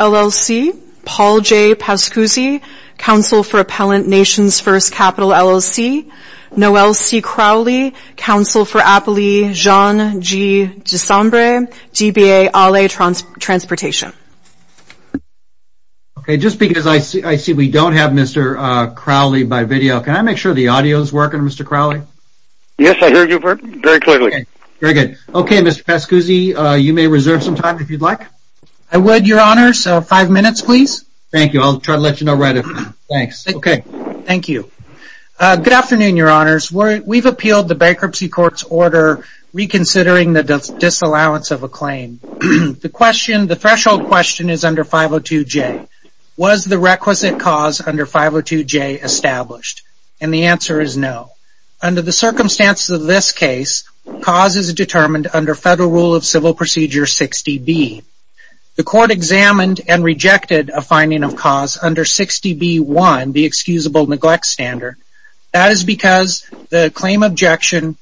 LLC, Paul J. Pascuzzi, Council for Appellant Nations First Capital, LLC, Noel C. Crowley, Council for Appellee Jean G. Desombre, DBA, ALE Transportation. Just because I see we don't have Mr. Crowley by video, can I make sure the audio is working, Mr. Crowley? Yes, I hear you very clearly. Very good. Okay, Mr. Pascuzzi, you may reserve some time if you'd like. I would, Your Honor, so five minutes, please. Thank you, I'll try to let you know right away. Thanks. Okay. Thank you. Good afternoon, Your Honors. We've appealed the bankruptcy court's order reconsidering the disallowance of a claim. The threshold question is under 502J. Was the requisite cause under 502J established? And the answer is no. Under the circumstances of this case, cause is determined under Federal Rule of Civil Procedure 60B. The court examined and rejected a finding of cause under 60B1, the excusable neglect standard. That is because the claim objection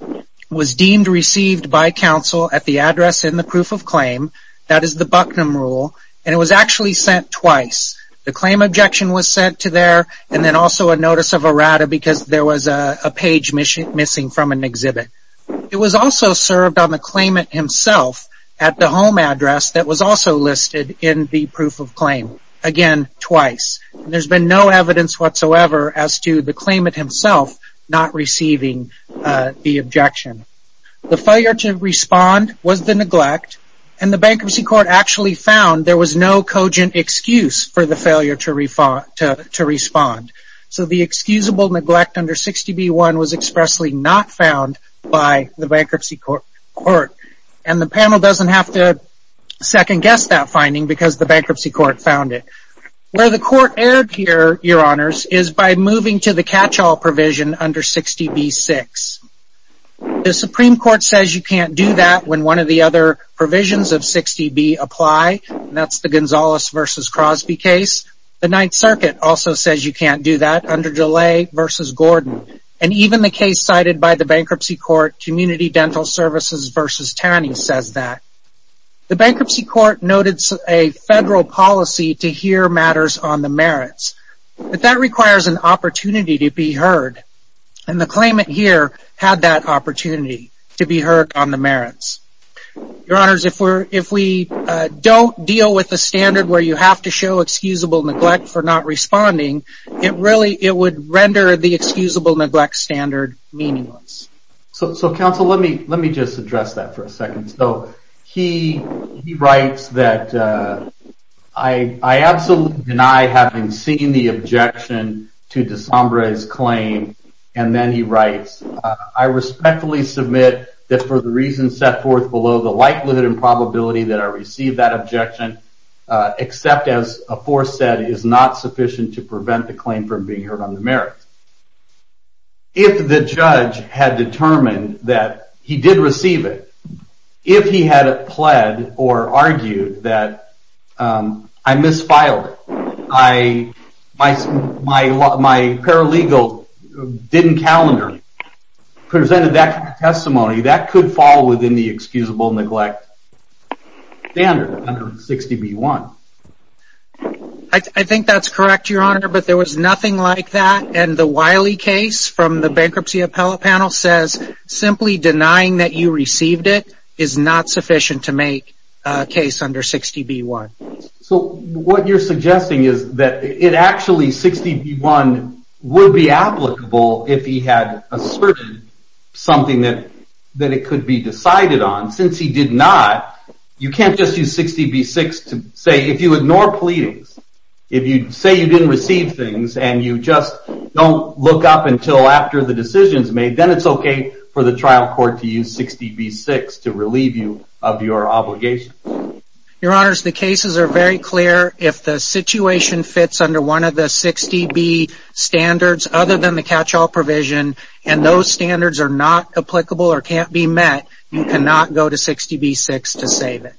was deemed received by counsel at the address in the proof of claim, that is the Bucknum Rule, and it was actually sent twice. The claim objection was sent to there and then also a notice of errata because there was a page missing from an exhibit. It was also served on the claimant himself at the home address that was also listed in the proof of claim. Again, twice. There's been no evidence whatsoever as to the claimant himself not receiving the objection. The failure to respond was the neglect and the bankruptcy court actually found there was no cogent excuse for the failure to respond. So the excusable neglect under 60B1 was expressly not found by the bankruptcy court. And the panel doesn't have to second guess that finding because the bankruptcy court found it. Where the court erred here, Your Honors, is by moving to the catch-all provision under 60B6. The Supreme Court says you can't do that when one of the other provisions of 60B apply. That's the Gonzales v. Crosby case. The Ninth Circuit also says you can't do that under DeLay v. Gordon. And even the case cited by the bankruptcy court, Community Dental Services v. Tanney, says that. The bankruptcy court noted a federal policy to hear matters on the merits. But that requires an opportunity to be heard. And the claimant here had that opportunity to be heard on the merits. Your Honors, if we don't deal with the standard where you have to show excusable neglect for not responding, it would render the excusable neglect standard meaningless. So, counsel, let me just address that for a second. So he writes that, I absolutely deny having seen the objection to DeSombre's claim. And then he writes, I respectfully submit that for the reasons set forth below, the likelihood and probability that I received that objection, except as aforesaid, is not sufficient to prevent the claim from being heard on the merits. If the judge had determined that he did receive it, if he had pled or argued that I misfiled, my paralegal didn't calendar, presented that testimony, that could fall within the excusable neglect standard under 60B1. I think that's correct, Your Honor, but there was nothing like that. And the Wiley case from the bankruptcy appellate panel says simply denying that you received it is not sufficient to make a case under 60B1. So what you're suggesting is that it actually, 60B1 would be applicable if he had asserted something that it could be decided on. Since he did not, you can't just use 60B6 to say, if you ignore pleadings, if you say you didn't receive things and you just don't look up until after the decision is made, then it's okay for the trial court to use 60B6 to relieve you of your obligation. Your Honors, the cases are very clear. If the situation fits under one of the 60B standards, other than the catch-all provision, and those standards are not applicable or can't be met, you cannot go to 60B6 to save it.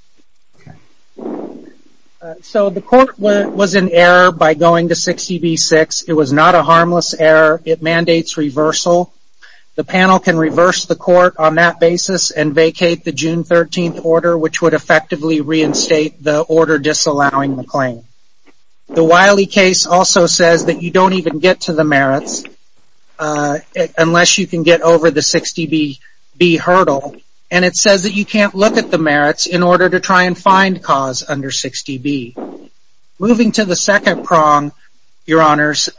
So the court was in error by going to 60B6. It was not a harmless error. It mandates reversal. The panel can reverse the court on that basis and vacate the June 13th order, which would effectively reinstate the order disallowing the claim. The Wiley case also says that you don't even get to the merits unless you can get over the 60B hurdle. And it says that you can't look at the merits in order to try and find cause under 60B. Moving to the second prong, Your Honors,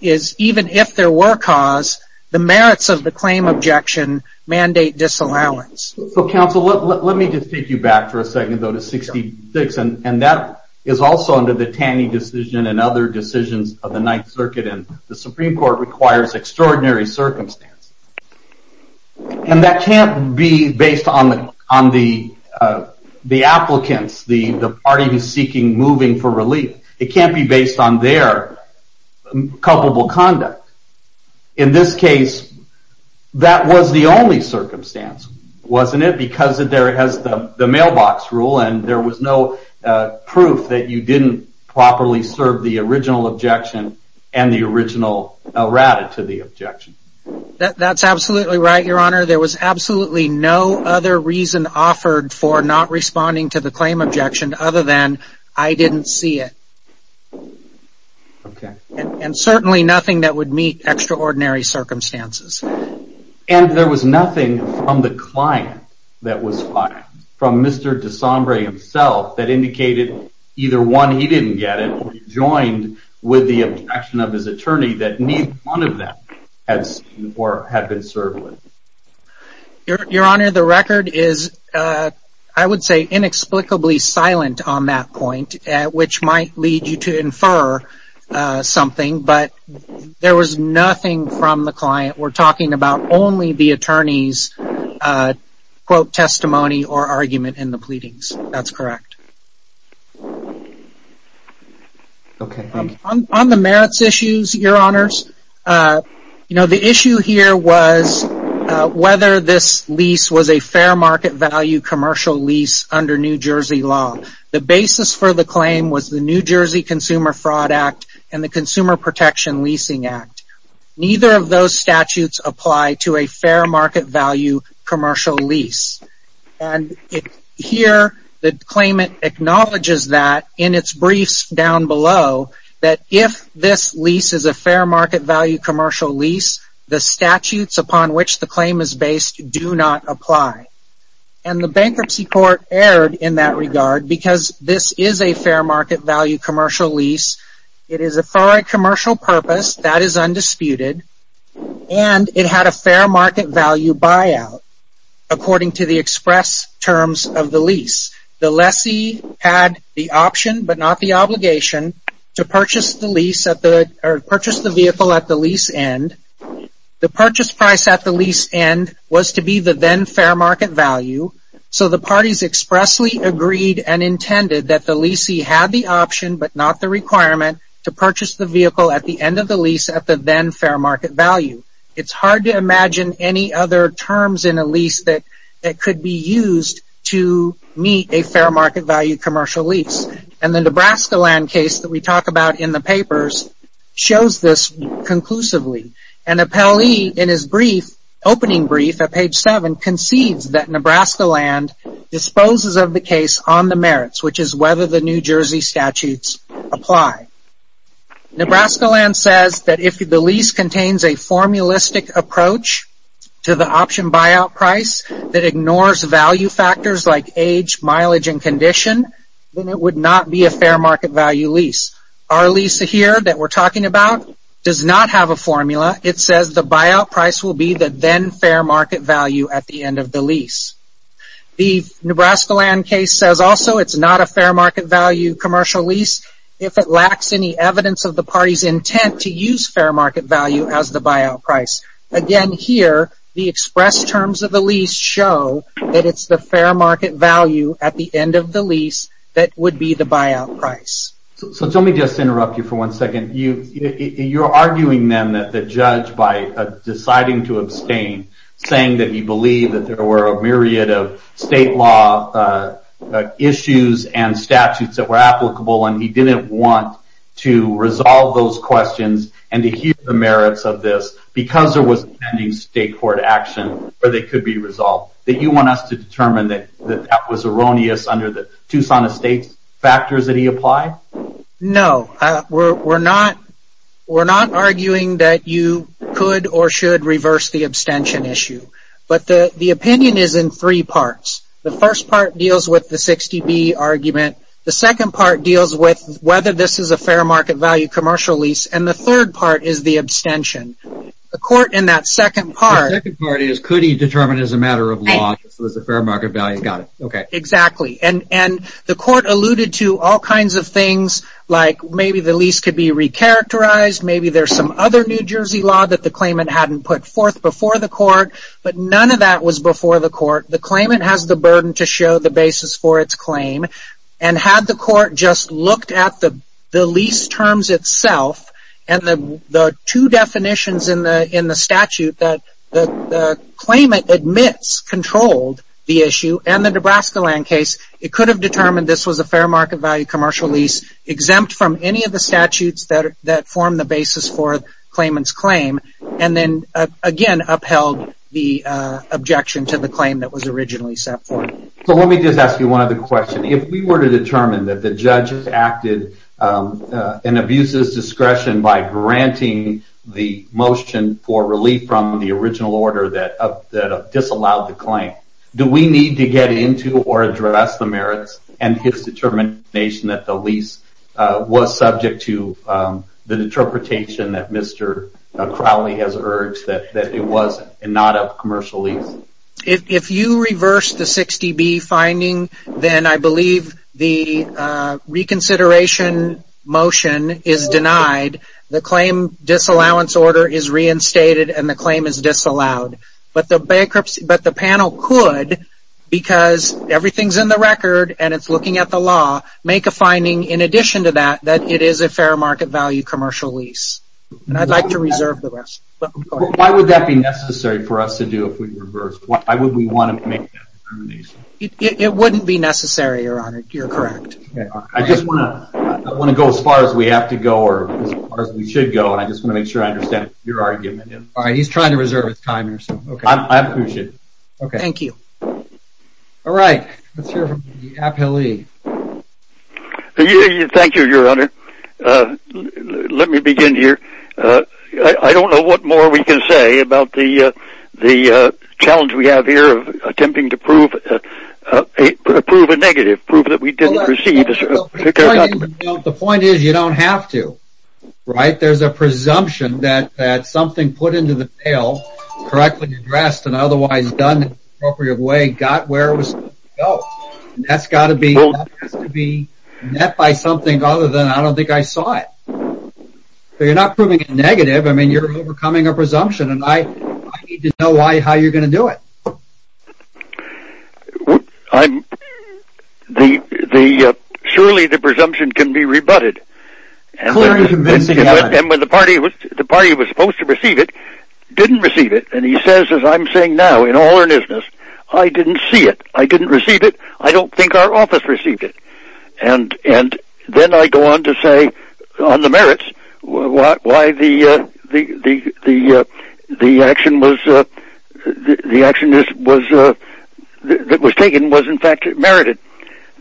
is even if there were cause, the merits of the claim objection mandate disallowance. So, counsel, let me just take you back for a second, though, to 60B6. And that is also under the Taney decision and other decisions of the Ninth Circuit, and the Supreme Court requires extraordinary circumstances. And that can't be based on the applicants, the parties seeking moving for relief. It can't be based on their culpable conduct. In this case, that was the only circumstance, wasn't it? Because it has the mailbox rule and there was no proof that you didn't properly serve the original objection and the original rata to the objection. That's absolutely right, Your Honor. There was absolutely no other reason offered for not responding to the claim objection other than I didn't see it. Okay. And certainly nothing that would meet extraordinary circumstances. And there was nothing from the client that was filed, from Mr. DeSombre himself, that indicated either one, he didn't get it, or he joined with the objection of his attorney that neither one of them had seen or had been served with. Your Honor, the record is, I would say, inexplicably silent on that point, which might lead you to infer something, but there was nothing from the client. We're talking about only the attorney's, quote, testimony or argument in the pleadings. That's correct. On the merits issues, Your Honors, you know, the issue here was whether this lease was a fair market value commercial lease under New Jersey law. The basis for the claim was the New Jersey Consumer Fraud Act and the Consumer Protection Leasing Act. Neither of those statutes apply to a fair market value commercial lease. And here, the claimant acknowledges that in its briefs down below, that if this lease is a fair market value commercial lease, the statutes upon which the claim is based do not apply. And the Bankruptcy Court erred in that regard because this is a fair market value commercial lease. It is for a commercial purpose. That is undisputed. And it had a fair market value buyout, according to the express terms of the lease. The lessee had the option, but not the obligation, to purchase the vehicle at the lease end. The purchase price at the lease end was to be the then fair market value. So the parties expressly agreed and intended that the lessee had the option, but not the requirement, to purchase the vehicle at the end of the lease at the then fair market value. It's hard to imagine any other terms in a lease that could be used to meet a fair market value commercial lease. And the Nebraska land case that we talk about in the papers shows this conclusively. And Appellee, in his opening brief at page 7, concedes that Nebraska land disposes of the case on the merits, which is whether the New Jersey statutes apply. Nebraska land says that if the lease contains a formulistic approach to the option buyout price that ignores value factors like age, mileage, and condition, then it would not be a fair market value lease. Our lease here that we're talking about does not have a formula. It says the buyout price will be the then fair market value at the end of the lease. The Nebraska land case says also it's not a fair market value commercial lease if it lacks any evidence of the party's intent to use fair market value as the buyout price. Again, here, the expressed terms of the lease show that it's the fair market value at the end of the lease that would be the buyout price. So let me just interrupt you for one second. You're arguing then that the judge, by deciding to abstain, saying that he believed that there were a myriad of state law issues and statutes that were applicable and he didn't want to resolve those questions and to hear the merits of this because there was pending state court action where they could be resolved. That you want us to determine that that was erroneous under the Tucson Estates factors that he applied? No, we're not arguing that you could or should reverse the abstention issue. But the opinion is in three parts. The first part deals with the 60B argument. The second part deals with whether this is a fair market value commercial lease. And the third part is the abstention. The court in that second part... The second part is could he determine as a matter of law if this was a fair market value. Got it. Exactly. And the court alluded to all kinds of things like maybe the lease could be re-characterized. Maybe there's some other New Jersey law that the claimant hadn't put forth before the court. But none of that was before the court. The claimant has the burden to show the basis for its claim. And had the court just looked at the lease terms itself and the two definitions in the statute that the claimant admits controlled the issue and the Nebraska land case, it could have determined this was a fair market value commercial lease exempt from any of the statutes that form the basis for the claimant's claim. And then, again, upheld the objection to the claim that was originally set forth. So let me just ask you one other question. If we were to determine that the judge acted in abuser's discretion by granting the motion for relief from the original order that disallowed the claim, do we need to get into or address the merits and his determination that the lease was subject to the interpretation that Mr. Crowley has urged that it was not a commercial lease? If you reverse the 60B finding, then I believe the reconsideration motion is denied. The claim disallowance order is reinstated and the claim is disallowed. But the panel could, because everything's in the record and it's looking at the law, make a finding in addition to that that it is a fair market value commercial lease. And I'd like to reserve the rest. Why would that be necessary for us to do if we reversed? Why would we want to make that determination? It wouldn't be necessary, Your Honor. You're correct. I just want to go as far as we have to go or as far as we should go, and I just want to make sure I understand what your argument is. All right. He's trying to reserve his time here. I appreciate it. Thank you. All right. Let's hear from the appellee. Thank you, Your Honor. Let me begin here. I don't know what more we can say about the challenge we have here of attempting to prove a negative, prove that we didn't receive a certificate. The point is you don't have to, right? There's a presumption that something put into the pail, correctly addressed and otherwise done in an appropriate way, got where it was supposed to go. That's got to be met by something other than I don't think I saw it. You're not proving a negative. I mean, you're overcoming a presumption, and I need to know how you're going to do it. Surely the presumption can be rebutted. And when the party that was supposed to receive it didn't receive it, and he says, as I'm saying now, in all earnestness, I didn't see it. I didn't receive it. I don't think our office received it. Then I go on to say, on the merits, why the action that was taken was in fact merited.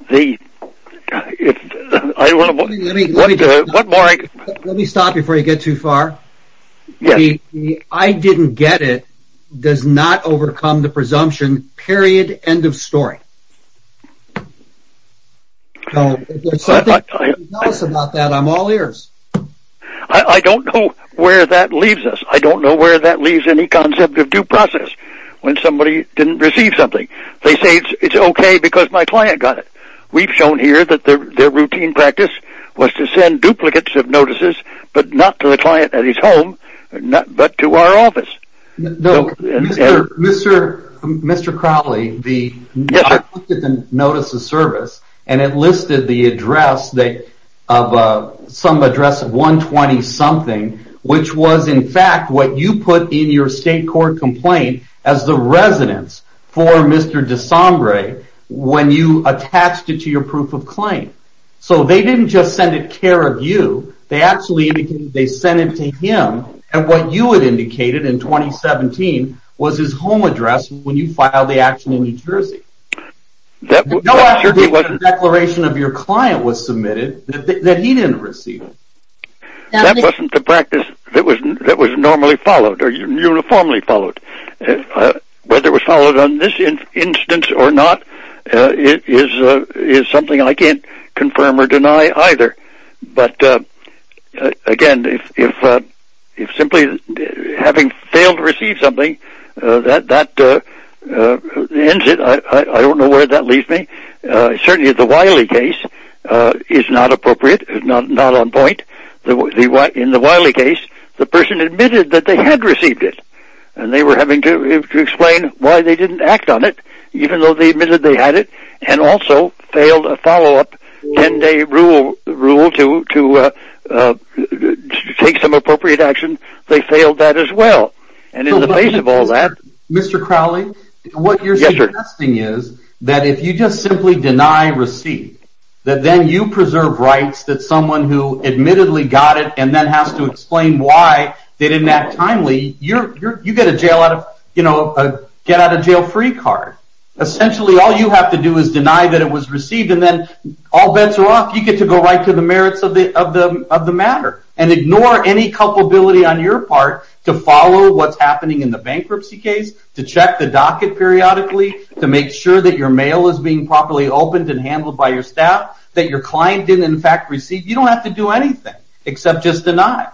Let me stop before you get too far. The I didn't get it does not overcome the presumption, period, end of story. Tell us about that. I'm all ears. I don't know where that leaves us. I don't know where that leaves any concept of due process when somebody didn't receive something. They say it's okay because my client got it. We've shown here that their routine practice was to send duplicates of notices, but not to the client at his home, but to our office. Mr. Crowley, I looked at the notice of service, and it listed the address of some address of 120-something, which was in fact what you put in your state court complaint as the residence for Mr. DeSombre when you attached it to your proof of claim. So they didn't just send it care of you. They actually indicated they sent it to him, and what you had indicated in 2017 was his home address when you filed the action in New Jersey. No after the declaration of your client was submitted that he didn't receive it. That wasn't the practice that was normally followed or uniformly followed. Whether it was followed on this instance or not is something I can't confirm or deny either. But again, if simply having failed to receive something, that ends it. I don't know where that leaves me. Certainly the Wiley case is not appropriate, not on point. In the Wiley case, the person admitted that they had received it, and they were having to explain why they didn't act on it, even though they admitted they had it, and also failed a follow-up 10-day rule to take some appropriate action, they failed that as well. And in the face of all that... Mr. Crowley, what you're suggesting is that if you just simply deny receipt, that then you preserve rights that someone who admittedly got it and then has to explain why they didn't act timely, you get a jail-free card. Essentially, all you have to do is deny that it was received, and then all bets are off. You get to go right to the merits of the matter and ignore any culpability on your part to follow what's happening in the bankruptcy case, to check the docket periodically, to make sure that your mail is being properly opened and handled by your staff, that your client didn't in fact receive. You don't have to do anything except just deny.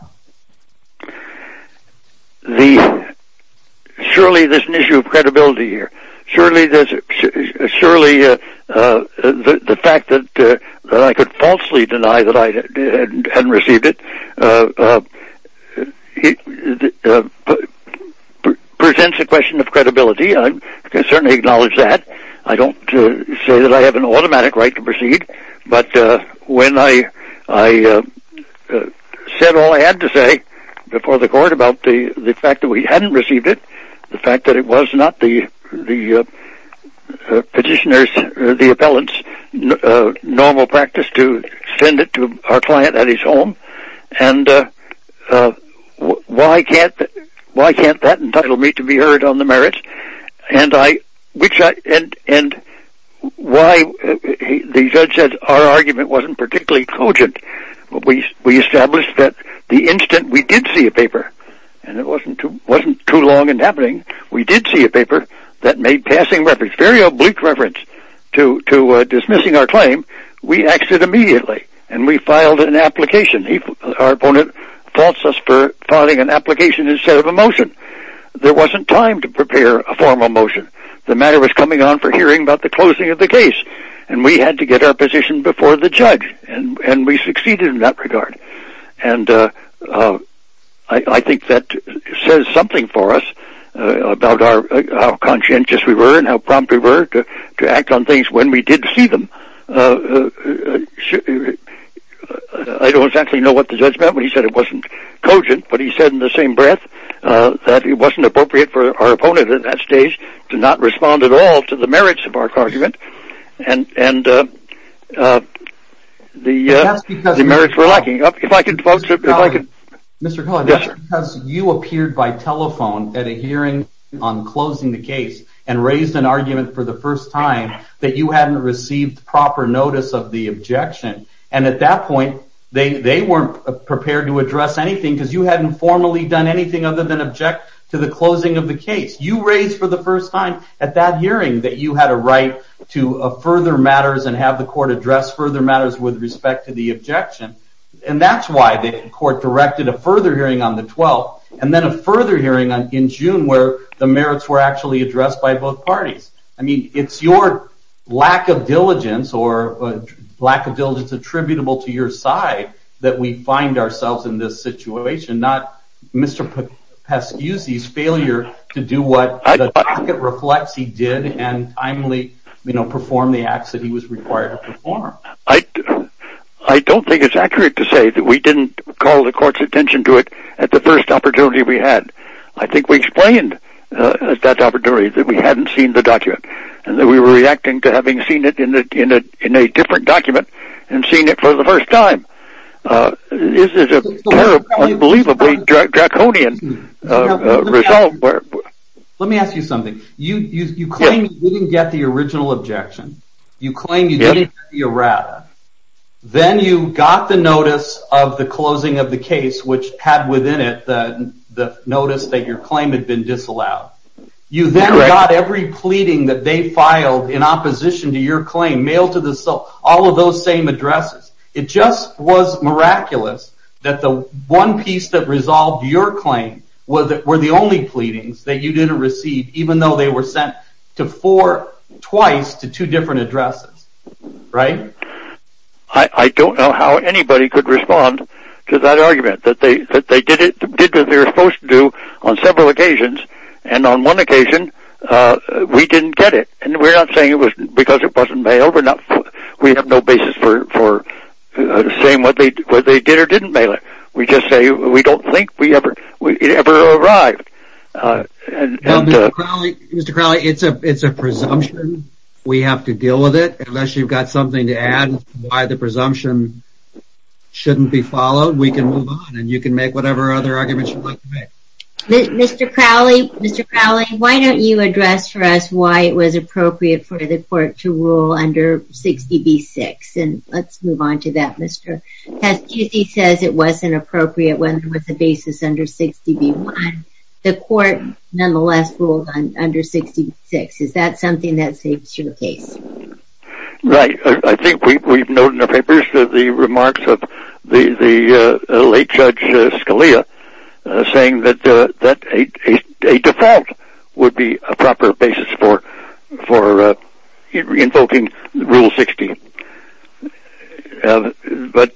Surely there's an issue of credibility here. Surely the fact that I could falsely deny that I had received it presents a question of credibility. I can certainly acknowledge that. I don't say that I have an automatic right to proceed, but when I said all I had to say before the court about the fact that we hadn't received it, the fact that it was not the petitioner's or the appellant's normal practice to send it to our client at his home, and why can't that entitle me to be heard on the merits? The judge said our argument wasn't particularly cogent. We established that the instant we did see a paper, and it wasn't too long in happening, we did see a paper that made passing reference, very oblique reference, to dismissing our claim, we axed it immediately and we filed an application. Our opponent faults us for filing an application instead of a motion. There wasn't time to prepare a formal motion. The matter was coming on for hearing about the closing of the case, and we had to get our position before the judge, and we succeeded in that regard. I think that says something for us about how conscientious we were and how prompt we were to act on things when we did see them. I don't exactly know what the judge meant when he said it wasn't cogent, but he said in the same breath that it wasn't appropriate for our opponent at that stage to not respond at all to the merits of our argument, and the merits were lacking. If I could, folks, if I could. Mr. Collier, that's because you appeared by telephone at a hearing on closing the case and raised an argument for the first time that you hadn't received proper notice of the objection, and at that point they weren't prepared to address anything because you hadn't formally done anything other than object to the closing of the case. You raised for the first time at that hearing that you had a right to further matters and have the court address further matters with respect to the objection, and that's why the court directed a further hearing on the 12th and then a further hearing in June where the merits were actually addressed by both parties. I mean, it's your lack of diligence or lack of diligence attributable to your side that we find ourselves in this situation, not Mr. Pesciuzzi's failure to do what the docket reflects he did and timely perform the acts that he was required to perform. I don't think it's accurate to say that we didn't call the court's attention to it at the first opportunity we had. I think we explained at that opportunity that we hadn't seen the document and that we were reacting to having seen it in a different document and seeing it for the first time. This is an unbelievably draconian result. Let me ask you something. You claim you didn't get the original objection. You claim you didn't get the errata. Then you got the notice of the closing of the case, which had within it the notice that your claim had been disallowed. You then got every pleading that they filed in opposition to your claim, mailed to the sole, all of those same addresses. It just was miraculous that the one piece that resolved your claim were the only pleadings that you didn't receive, even though they were sent twice to two different addresses, right? I don't know how anybody could respond to that argument. They did what they were supposed to do on several occasions, and on one occasion we didn't get it. We're not saying it was because it wasn't mailed. We have no basis for saying what they did or didn't mail it. We just say we don't think it ever arrived. Mr. Crowley, it's a presumption. We have to deal with it. Unless you've got something to add to why the presumption shouldn't be followed, we can move on and you can make whatever other arguments you'd like to make. Mr. Crowley, Mr. Crowley, why don't you address for us why it was appropriate for the court to rule under 60B-6, and let's move on to that. Because he says it wasn't appropriate when there was a basis under 60B-1. The court nonetheless ruled under 60B-6. Is that something that suits your case? Right. I think we've noted in the papers the remarks of the late Judge Scalia saying that a default would be a proper basis for invoking Rule 60. But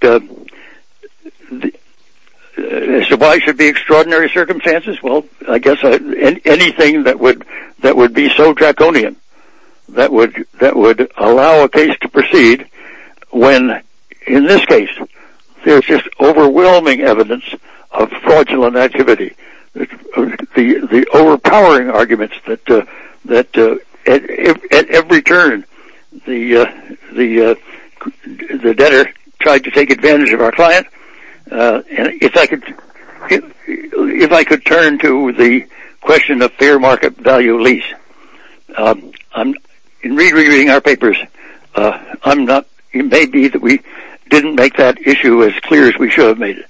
why should there be extraordinary circumstances? Well, I guess anything that would be so draconian that would allow a case to proceed when, in this case, there's just overwhelming evidence of fraudulent activity. The overpowering arguments that at every turn the debtor tried to take advantage of our client. If I could turn to the question of fair market value lease, in rereading our papers, it may be that we didn't make that issue as clear as we should have made it.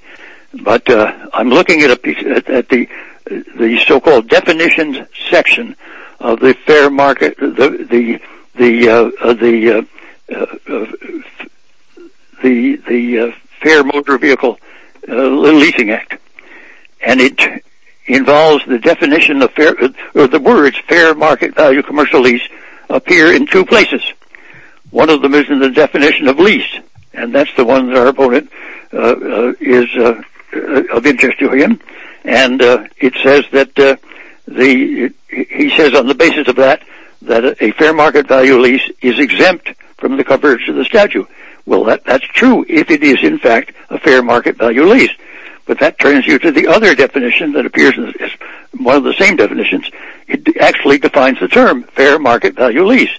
But I'm looking at the so-called definitions section of the Fair Motor Vehicle Leasing Act. And it involves the words fair market value commercial lease appear in two places. One of them is in the definition of lease. And that's the one that our opponent is of interest to him. And he says on the basis of that, that a fair market value lease is exempt from the coverage of the statute. Well, that's true if it is, in fact, a fair market value lease. But that turns you to the other definition that appears as one of the same definitions. It actually defines the term fair market value lease.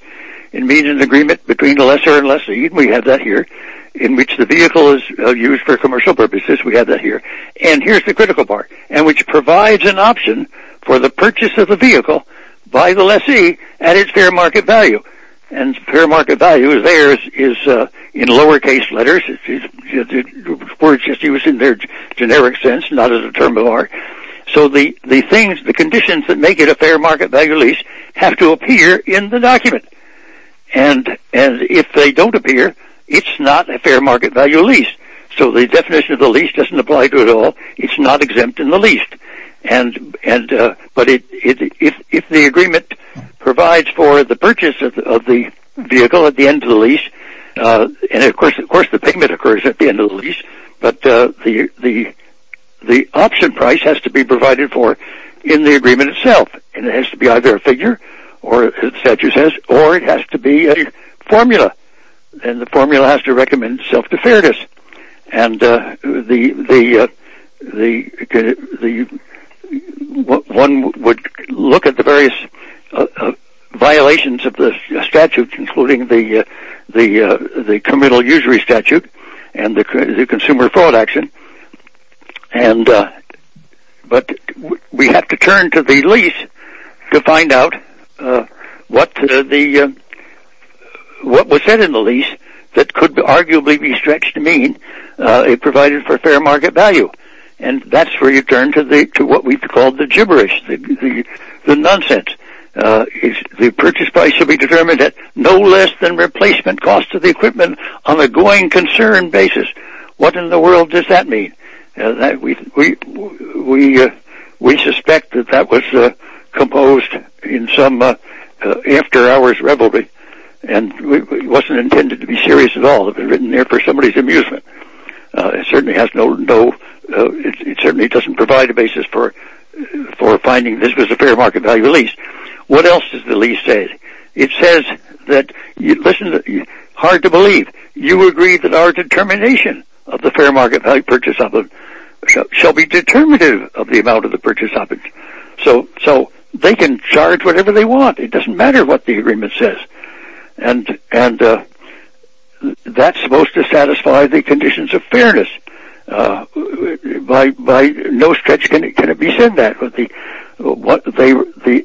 It means an agreement between the lesser and lessee. We have that here, in which the vehicle is used for commercial purposes. We have that here. And here's the critical part, which provides an option for the purchase of a vehicle by the lessee at its fair market value. And fair market value there is in lowercase letters. The word just used in their generic sense, not as a term of art. So the conditions that make it a fair market value lease have to appear in the document. And if they don't appear, it's not a fair market value lease. So the definition of the lease doesn't apply to it at all. It's not exempt in the lease. But if the agreement provides for the purchase of the vehicle at the end of the lease, and of course the payment occurs at the end of the lease, but the option price has to be provided for in the agreement itself. And it has to be either a figure, or it has to be a formula. And the formula has to recommend self-deferredness. And one would look at the various violations of the statute, including the committal usury statute and the consumer fraud action. But we have to turn to the lease to find out what was said in the lease that could arguably be stretched to mean it provided for a fair market value. And that's where you turn to what we call the gibberish, the nonsense. The purchase price should be determined at no less than replacement cost to the equipment on a going concern basis. What in the world does that mean? We suspect that that was composed in some after hours revelry, and it wasn't intended to be serious at all. It would have been written there for somebody's amusement. It certainly doesn't provide a basis for finding this was a fair market value lease. What else does the lease say? It says that, listen, hard to believe, you agree that our determination of the fair market value purchase shall be determinative of the amount of the purchase object. So they can charge whatever they want. It doesn't matter what the agreement says. And that's supposed to satisfy the conditions of fairness. By no stretch can it be said that. The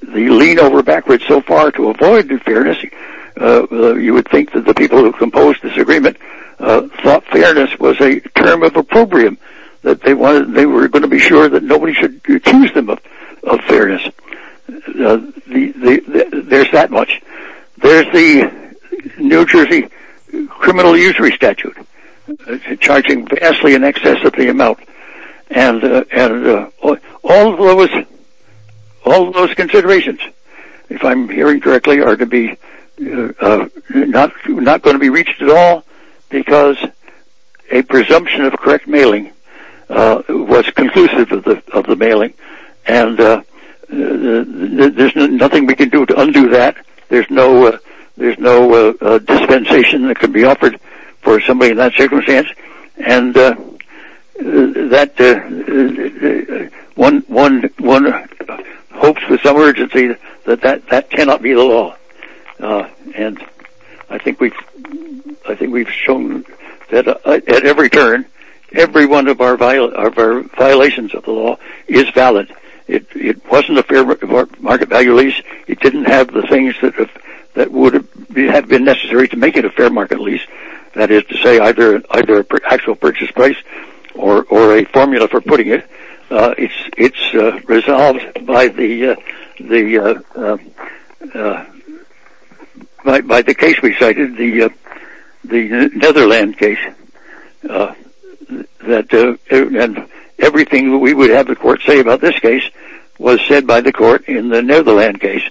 lean over backwards so far to avoid fairness, you would think that the people who composed this agreement thought fairness was a term of opprobrium, that they were going to be sure that nobody should accuse them of fairness. There's that much. There's the New Jersey criminal usury statute charging vastly in excess of the amount. And all of those considerations, if I'm hearing correctly, are not going to be reached at all because a presumption of correct mailing was conclusive of the mailing. And there's nothing we can do to undo that. There's no dispensation that can be offered for somebody in that circumstance. And one hopes with some urgency that that cannot be the law. And I think we've shown that at every turn, every one of our violations of the law is valid. It wasn't a fair market value lease. It didn't have the things that would have been necessary to make it a fair market lease, that is to say either an actual purchase price or a formula for putting it. It's resolved by the case we cited, the Netherland case. Everything we would have the court say about this case was said by the court in the Netherland case,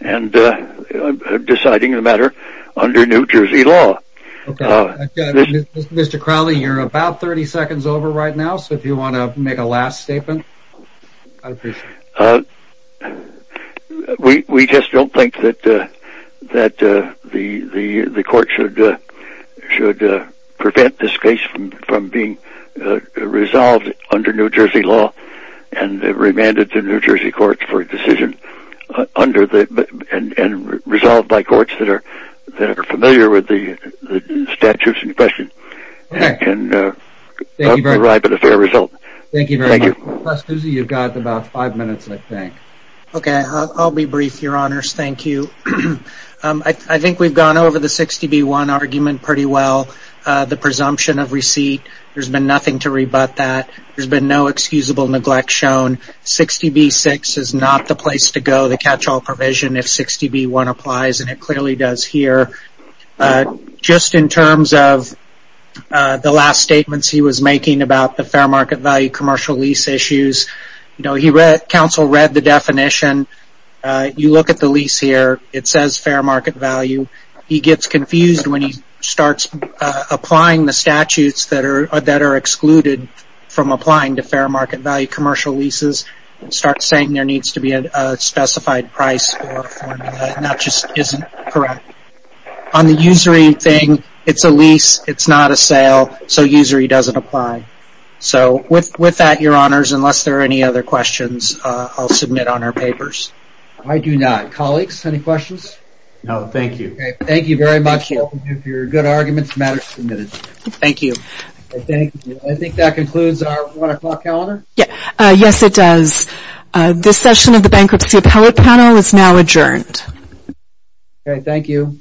deciding the matter under New Jersey law. Mr. Crowley, you're about 30 seconds over right now, so if you want to make a last statement, I'd appreciate it. We just don't think that the court should prevent this case from being resolved under New Jersey law and remanded to New Jersey courts for a decision and resolved by courts that are familiar with the statutes in question and can arrive at a fair result. Thank you very much. Mr. Pascuzzi, you've got about five minutes, I think. Okay, I'll be brief, Your Honors. Thank you. I think we've gone over the 60B1 argument pretty well, the presumption of receipt. There's been nothing to rebut that. There's been no excusable neglect shown. 60B6 is not the place to go, the catch-all provision, if 60B1 applies, and it clearly does here. Just in terms of the last statements he was making about the fair market value commercial lease issues, counsel read the definition. You look at the lease here, it says fair market value. He gets confused when he starts applying the statutes that are excluded from applying to fair market value commercial leases. He starts saying there needs to be a specified price or formula, and that just isn't correct. On the usury thing, it's a lease, it's not a sale, so usury doesn't apply. So with that, Your Honors, unless there are any other questions, I'll submit on our papers. I do not. Colleagues, any questions? No, thank you. Thank you very much. Thank you for your good arguments, matters submitted. Thank you. I think that concludes our 1 o'clock calendar? Yes, it does. This session of the Bankruptcy Appellate Panel is now adjourned. Thank you.